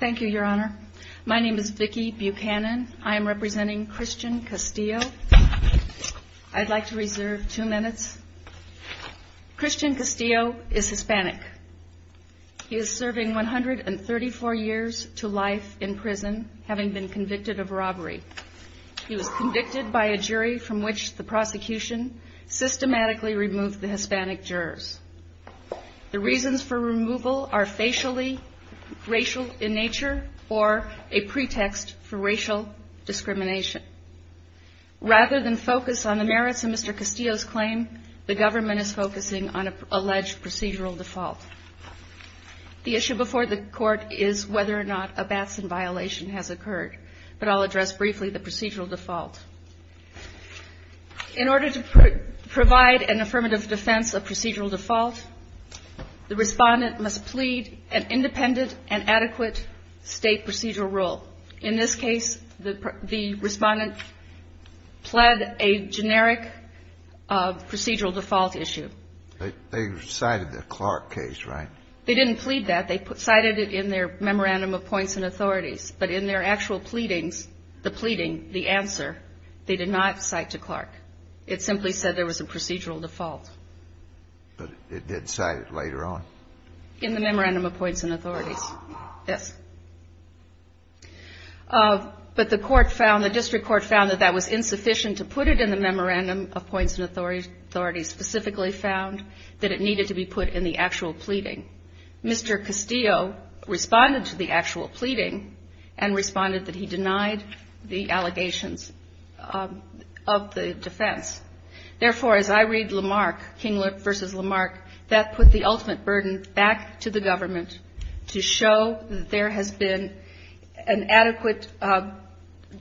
Thank you, Your Honor. My name is Vicki Buchanan. I am representing Christian Castillo. I'd like to reserve two minutes. Christian Castillo is Hispanic. He is serving 134 years to life in prison, having been convicted of robbery. He was convicted by a jury from which the prosecution systematically removed the Hispanic jurors. The reasons for removal are facially racial in nature or a pretext for racial discrimination. Rather than focus on the merits of Mr. Castillo's claim, the government is focusing on an alleged procedural default. The issue before the court is whether or not a Batson violation has occurred, but I'll address briefly the procedural default. In order to provide an affirmative defense of an adequate State procedural rule, in this case, the Respondent pled a generic procedural default issue. They cited the Clark case, right? They didn't plead that. They cited it in their Memorandum of Points and Authorities. But in their actual pleadings, the pleading, the answer, they did not cite to Clark. It simply said there was a procedural default. But it did cite it later on? In the Memorandum of Points and Authorities, yes. But the court found, the district court found that that was insufficient to put it in the Memorandum of Points and Authorities, specifically found that it needed to be put in the actual pleading. Mr. Castillo responded to the actual pleading and responded that he denied the allegations of the defense. Therefore, as I read Lamarck, King versus Lamarck, that put the ultimate burden back to the government to show that there has been an adequate, that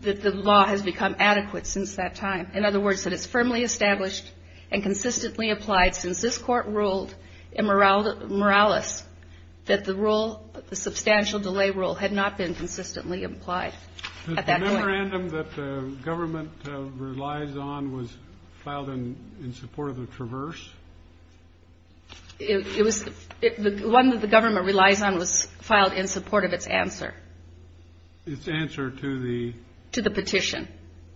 the law has become adequate since that time. In other words, that it's firmly established and consistently applied since this Court ruled in Morales that the rule, the substantial delay rule, had not been consistently applied at that point. The memorandum that the government relies on was filed in support of the Traverse? It was, the one that the government relies on was filed in support of its answer. Its answer to the? To the petition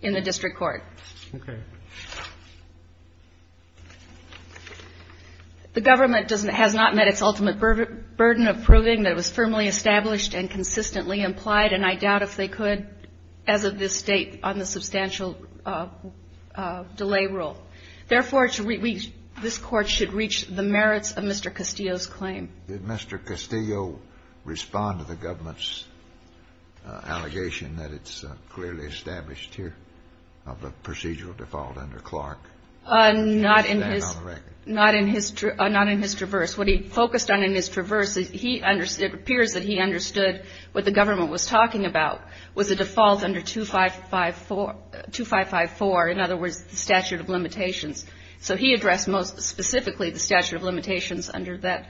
in the district court. Okay. The government has not met its ultimate burden of proving that it was firmly established and consistently implied, and I doubt if they could as of this date on the substantial delay rule. Therefore, this Court should reach the merits of Mr. Castillo's claim. Did Mr. Castillo respond to the government's allegation that it's clearly established here of a procedural default under Clark? Not in his, not in his Traverse. What he focused on in his Traverse, he understood it appears that he understood what the government was talking about, was a default under 2554, in other words, the statute of limitations. So he addressed most specifically the statute of limitations under that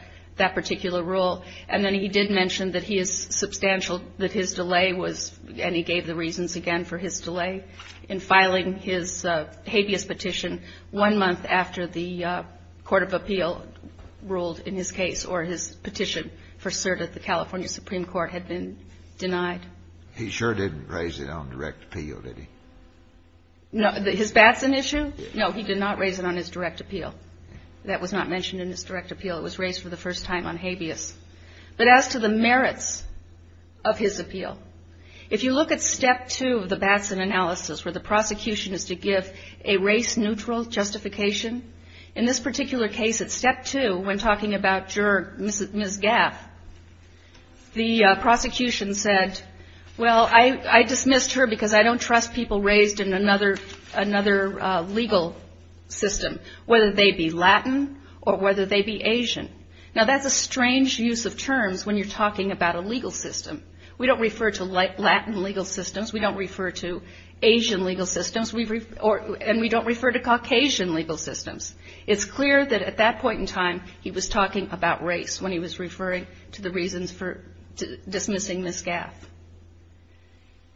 particular rule. And then he did mention that he is substantial that his delay was, and he gave the reasons again for his delay, in filing his habeas petition one month after the court of appeal ruled in his case, or his petition for certitude. The California Supreme Court had been denied. He sure didn't raise it on direct appeal, did he? No. His Batson issue? No, he did not raise it on his direct appeal. That was not mentioned in his direct appeal. It was raised for the first time on habeas. But as to the merits of his appeal, if you look at step two of the Batson analysis, where the prosecution is to give a race-neutral justification, in this particular case, at step two, when talking about juror, Ms. Gaff, the prosecution said, well, I dismissed her because I don't trust people raised in another legal system, whether they be Latin or whether they be Asian. Now, that's a strange use of terms when you're talking about a legal system. We don't refer to Latin legal systems. We don't refer to Asian legal systems. And we don't refer to Caucasian legal systems. It's clear that at that point in time, he was talking about race when he was referring to the reasons for dismissing Ms. Gaff.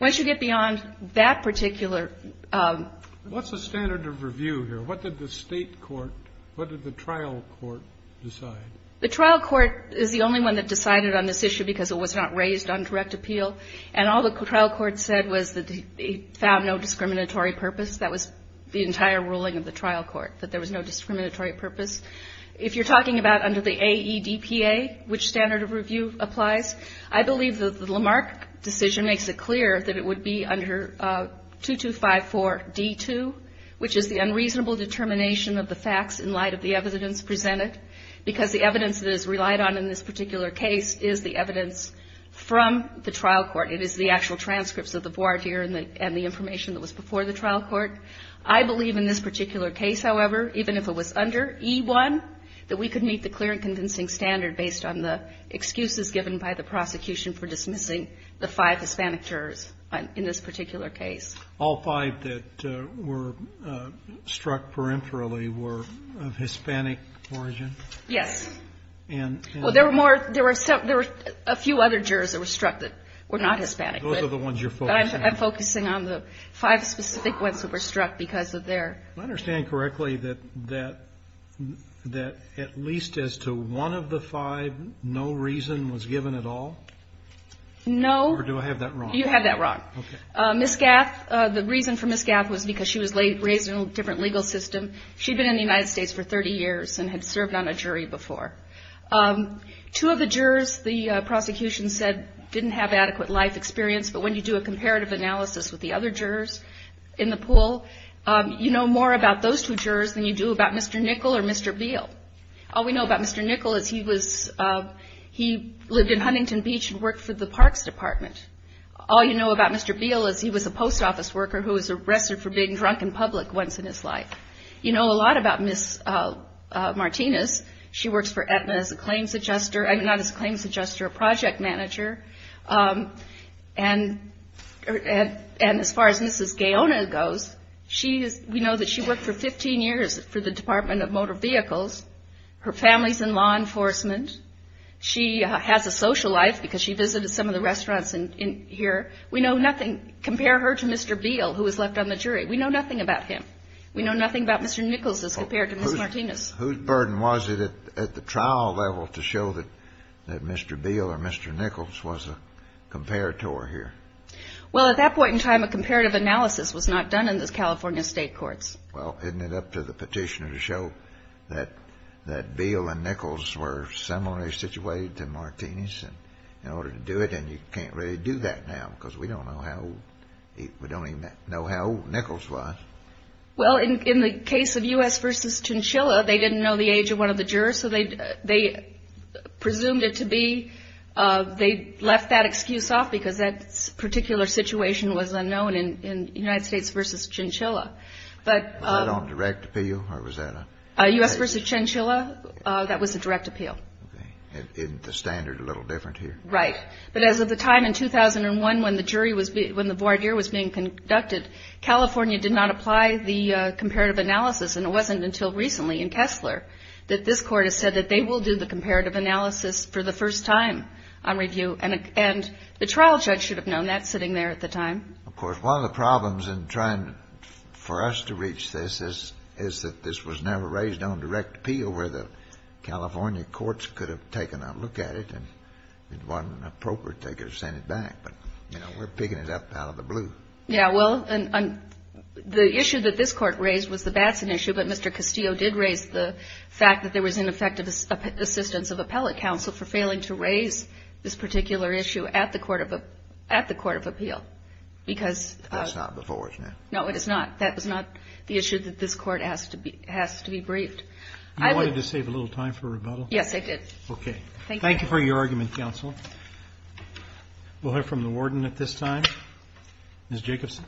Once you get beyond that particular ---- What's the standard of review here? What did the state court, what did the trial court decide? The trial court is the only one that decided on this issue because it was not raised on direct appeal. And all the trial court said was that they found no discriminatory purpose. That was the entire ruling of the trial court, that there was no discriminatory purpose. If you're talking about under the AEDPA, which standard of review applies, I believe the Lamarck decision makes it clear that it would be under 2254D2, which is the unreasonable determination of the facts in light of the evidence presented, because the evidence that is relied on in this particular case is the evidence from the trial court. It is the actual I believe in this particular case, however, even if it was under E1, that we could meet the clear and convincing standard based on the excuses given by the prosecution for dismissing the five Hispanic jurors in this particular case. All five that were struck perimpherally were of Hispanic origin? Yes. And ---- Well, there were more ---- there were a few other jurors that were struck that were not Hispanic, but ---- Those are the ones you're focusing on. I'm focusing on the five specific ones that were struck because of their ---- Do I understand correctly that at least as to one of the five, no reason was given at all? No. Or do I have that wrong? You have that wrong. Okay. Ms. Gaff, the reason for Ms. Gaff was because she was raised in a different legal system. She'd been in the United States for 30 years and had served on a jury before. Two of the other jurors in the pool. You know more about those two jurors than you do about Mr. Nickel or Mr. Beal. All we know about Mr. Nickel is he was ---- he lived in Huntington Beach and worked for the Parks Department. All you know about Mr. Beal is he was a post office worker who was arrested for being drunk in public once in his life. You know a lot about Ms. Martinez. She works for Aetna as a claims adjuster ---- not as an adjuster. And as far as Mrs. Gaona goes, we know that she worked for 15 years for the Department of Motor Vehicles. Her family's in law enforcement. She has a social life because she visited some of the restaurants here. We know nothing. Compare her to Mr. Beal who was left on the jury. We know nothing about him. We know nothing about Mr. Nickels as compared to Ms. Martinez. Whose burden was it at the trial level to show that Mr. Beal or Mr. Nickels was a comparator here? Well, at that point in time, a comparative analysis was not done in the California state courts. Well, isn't it up to the petitioner to show that Beal and Nickels were similarly situated to Martinez in order to do it? And you can't really do that now because we don't know how old ---- we don't even know how old Nickels was. Well, in the case of U.S. v. Chinchilla, they didn't know the age of one of the jurors, so presumed it to be. They left that excuse off because that particular situation was unknown in United States v. Chinchilla. Was that on direct appeal or was that a ---- U.S. v. Chinchilla, that was a direct appeal. Okay. Isn't the standard a little different here? Right. But as of the time in 2001 when the jury was being ---- when the voir dire was being conducted, California did not apply the comparative analysis, and it wasn't until recently in Kessler that this Court has said that they will do the comparative analysis for the first time on review. And the trial judge should have known that sitting there at the time. Of course, one of the problems in trying for us to reach this is that this was never raised on direct appeal where the California courts could have taken a look at it and if it wasn't appropriate, they could have sent it back. But, you know, we're picking it up out of the blue. Yeah. Well, the issue that this Court raised was the Batson issue, but Mr. Castillo did raise the fact that there was ineffective assistance of appellate counsel for failing to raise this particular issue at the court of appeal because ---- That's not before us now. No, it is not. That is not the issue that this Court has to be briefed. You wanted to save a little time for rebuttal? Yes, I did. Okay. Thank you. Thank you for your argument, counsel. We'll hear from the warden at this time. Ms. Jacobson.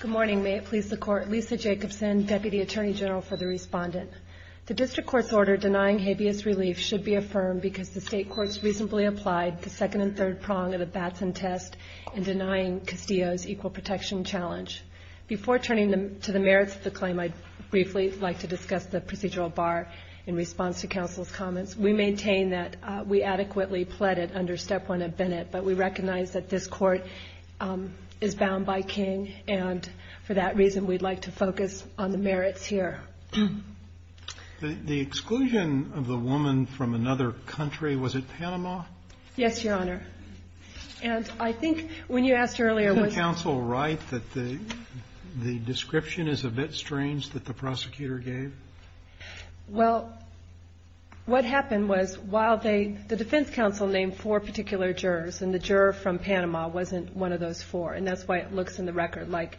Good morning. May it please the Court. Lisa Jacobson, Deputy Attorney General for the Respondent. The district court's order denying habeas relief should be affirmed because the state courts reasonably applied the second and third prong of the Batson test in denying Castillo's equal protection challenge. Before turning to the merits of the claim, I'd briefly like to discuss the procedural bar in response to counsel's comments. We maintain that we adequately pled it under Step 1 of Bennett, but we recognize that this Court is bound by King, and for that reason, we'd like to focus on the merits here. The exclusion of the woman from another country, was it Panama? Yes, Your Honor. And I think when you asked earlier ---- Isn't counsel right that the description is a bit strange that the prosecutor gave? Well, what happened was while they ---- the defense counsel named four particular jurors, and the juror from Panama wasn't one of those four, and that's why it looks in the record like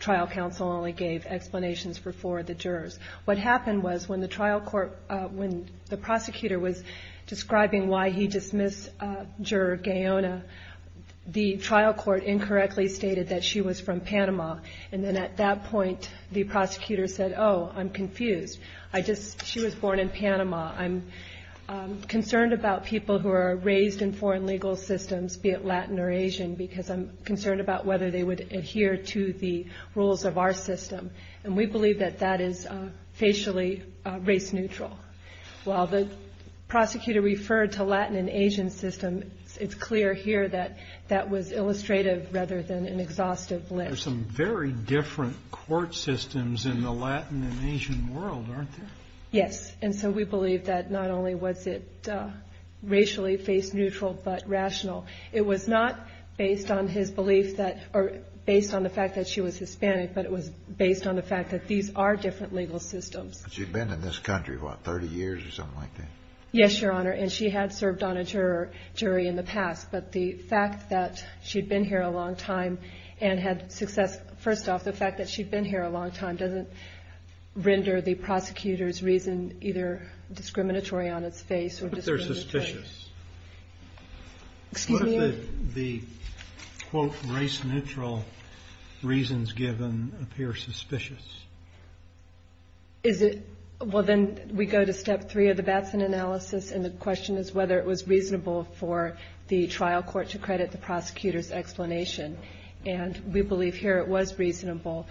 trial counsel only gave explanations for four of the jurors. What happened was when the trial court ---- when the prosecutor was describing why he dismissed Juror Gayona, the trial court incorrectly stated that she was from Panama. I'm concerned about people who are raised in foreign legal systems, be it Latin or Asian, because I'm concerned about whether they would adhere to the rules of our system. And we believe that that is facially race neutral. While the prosecutor referred to Latin and Asian systems, it's clear here that that was illustrative rather than an exhaustive list. There's some very different court systems in the Latin and Asian world, aren't there? Yes. And so we believe that not only was it racially face neutral but rational. It was not based on his belief that ---- or based on the fact that she was Hispanic, but it was based on the fact that these are different legal systems. She'd been in this country, what, 30 years or something like that? Yes, Your Honor. And she had served on a jury in the past, but the fact that she'd been here a long time and had success ---- first off, the fact that she'd been here a long time doesn't render the prosecutor's reason either discriminatory on its face or discriminatory. What if they're suspicious? Excuse me? What if the, quote, race neutral reasons given appear suspicious? Is it ---- well, then we go to step three of the Batson analysis, and the question is whether it was reasonable for the trial court to credit the prosecutor's explanation. And we believe here it was reasonable.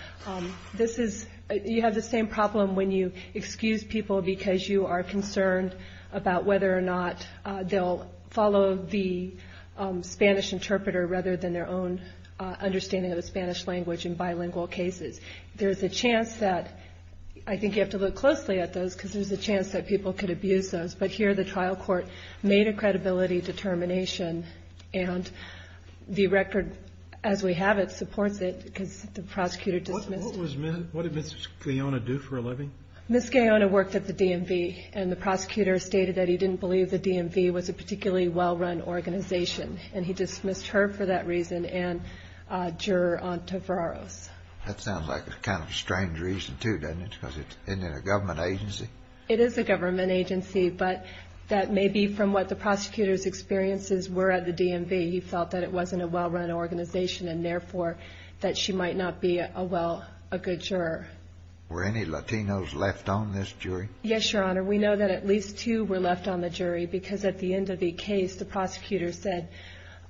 This is ---- you have the same problem when you excuse people because you are concerned about whether or not they'll follow the Spanish interpreter rather than their own understanding of the Spanish language in bilingual cases. There's a chance that ---- I think you have to look closely at those because there's a chance that people could abuse those, but here the trial court made a credibility determination, and the record as we have it supports it because the prosecutor dismissed ---- What was Ms. ---- What did Ms. Gayona do for a living? Ms. Gayona worked at the DMV, and the prosecutor stated that he didn't believe the DMV was a particularly well-run organization, and he dismissed her for that reason and Juror Antevaros. That sounds like a kind of strange reason, too, doesn't it, because it's in a government agency? It is a government agency, but that may be from what the prosecutor's experiences were at the DMV. He felt that it wasn't a well-run organization and, therefore, that she might not be a well ---- a good juror. Were any Latinos left on this jury? Yes, Your Honor. We know that at least two were left on the jury because at the end of the case, the prosecutor said,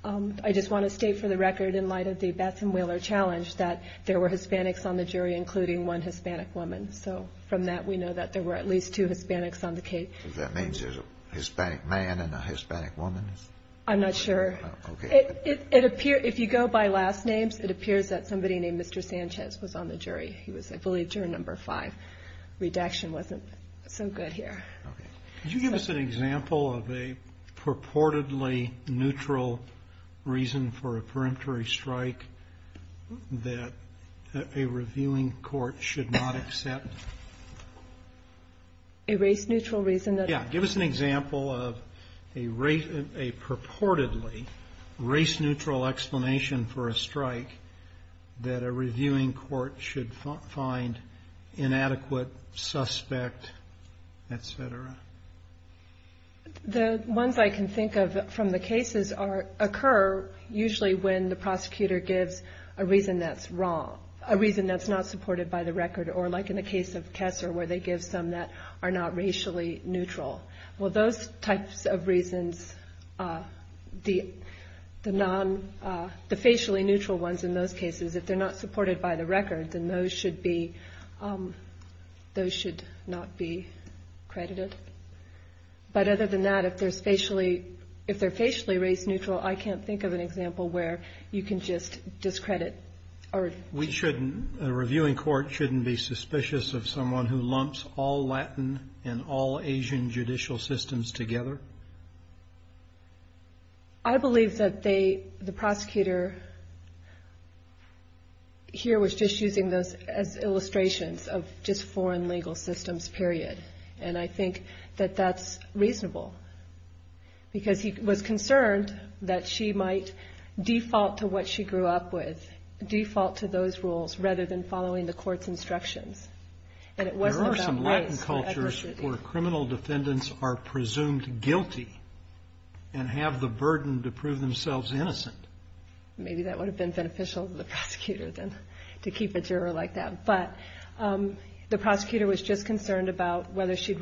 I just want to state for the record in light of the Batson-Wheeler challenge that there were Hispanics on the jury, including one Hispanic woman. So from that, we know that there were at least two Hispanics on the case. Does that mean there's a Hispanic man and a Hispanic woman? I'm not sure. Okay. It appears, if you go by last names, it appears that somebody named Mr. Sanchez was on the jury. He was, I believe, juror number five. Redaction wasn't so good here. Okay. Could you give us an example of a purportedly neutral reason for a peremptory strike that a reviewing court should not accept? A race-neutral reason? Yeah. Give us an example of a purportedly race-neutral explanation for a strike that a reviewing court should find inadequate, suspect, et cetera. The ones I can think of from the cases occur usually when the prosecutor gives a reason that's wrong, a reason that's not supported by the record, or like in the case of Kesser, where they give some that are not racially neutral. Well, those types of reasons, the facially neutral ones in those cases, if they're not supported by the record, then those should not be credited. But other than that, if they're facially race-neutral, I can't think of an example where you can just discredit. A reviewing court shouldn't be suspicious of someone who lumps all Latin and all Asian judicial systems together? I believe that the prosecutor here was just using those as illustrations of just foreign legal systems, period, and I think that that's reasonable, because he was concerned that she might default to what she grew up with, default to those rules, rather than following the court's instructions, and it wasn't about race. There are some Latin cultures where criminal defendants are presumed guilty and have the burden to prove themselves innocent. Maybe that would have been beneficial to the prosecutor then, to keep a juror like that. But the prosecutor was just concerned about whether she'd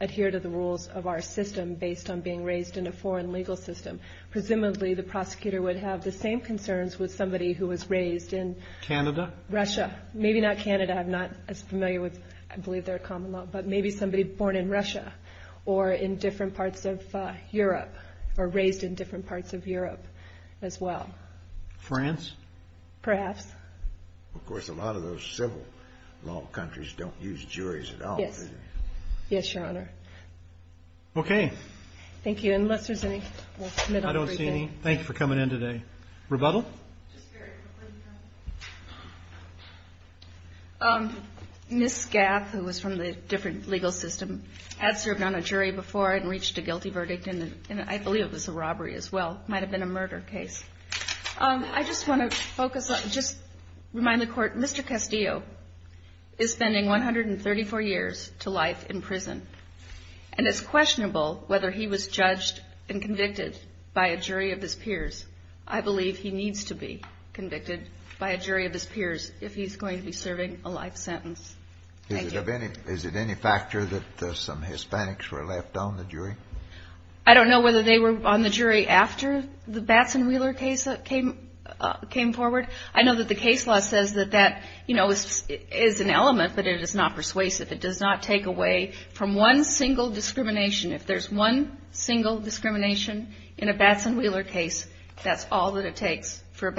adhere to the rules of our system based on being raised in a foreign legal system. Presumably, the prosecutor would have the same concerns with somebody who was raised in Russia. Maybe not Canada. I'm not as familiar with, I believe, their common law, but maybe somebody born in Russia or in different parts of Europe or raised in different parts of Europe as well. France? Perhaps. Of course, a lot of those civil law countries don't use juries at all, do they? Yes. Yes, Your Honor. Okay. Thank you. Unless there's any... I don't see any. Thank you for coming in today. Rebuttal? Ms. Gaff, who was from the different legal system, had served on a jury before and reached a guilty verdict, and I believe it was a robbery as well. Might have been a murder case. I just want to focus on, just remind the Court, Mr. Castillo is spending 134 years to life in prison, and it's questionable whether he was judged and convicted by a jury of his peers. I believe he needs to be convicted by a jury of his peers if he's going to be serving a life sentence. Thank you. Is it any factor that some Hispanics were left on the jury? I don't know whether they were on the jury after the Batson-Wheeler case came forward. I know that the case law says that that is an element, but it is not persuasive. It does not take away from one single discrimination. If there's one single discrimination in a Batson-Wheeler case, that's all that it takes for a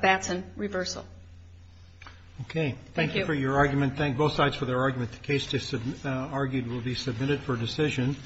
Batson reversal. Okay. Thank you for your argument. Thank both sides for their argument. The case argued will be submitted for decision.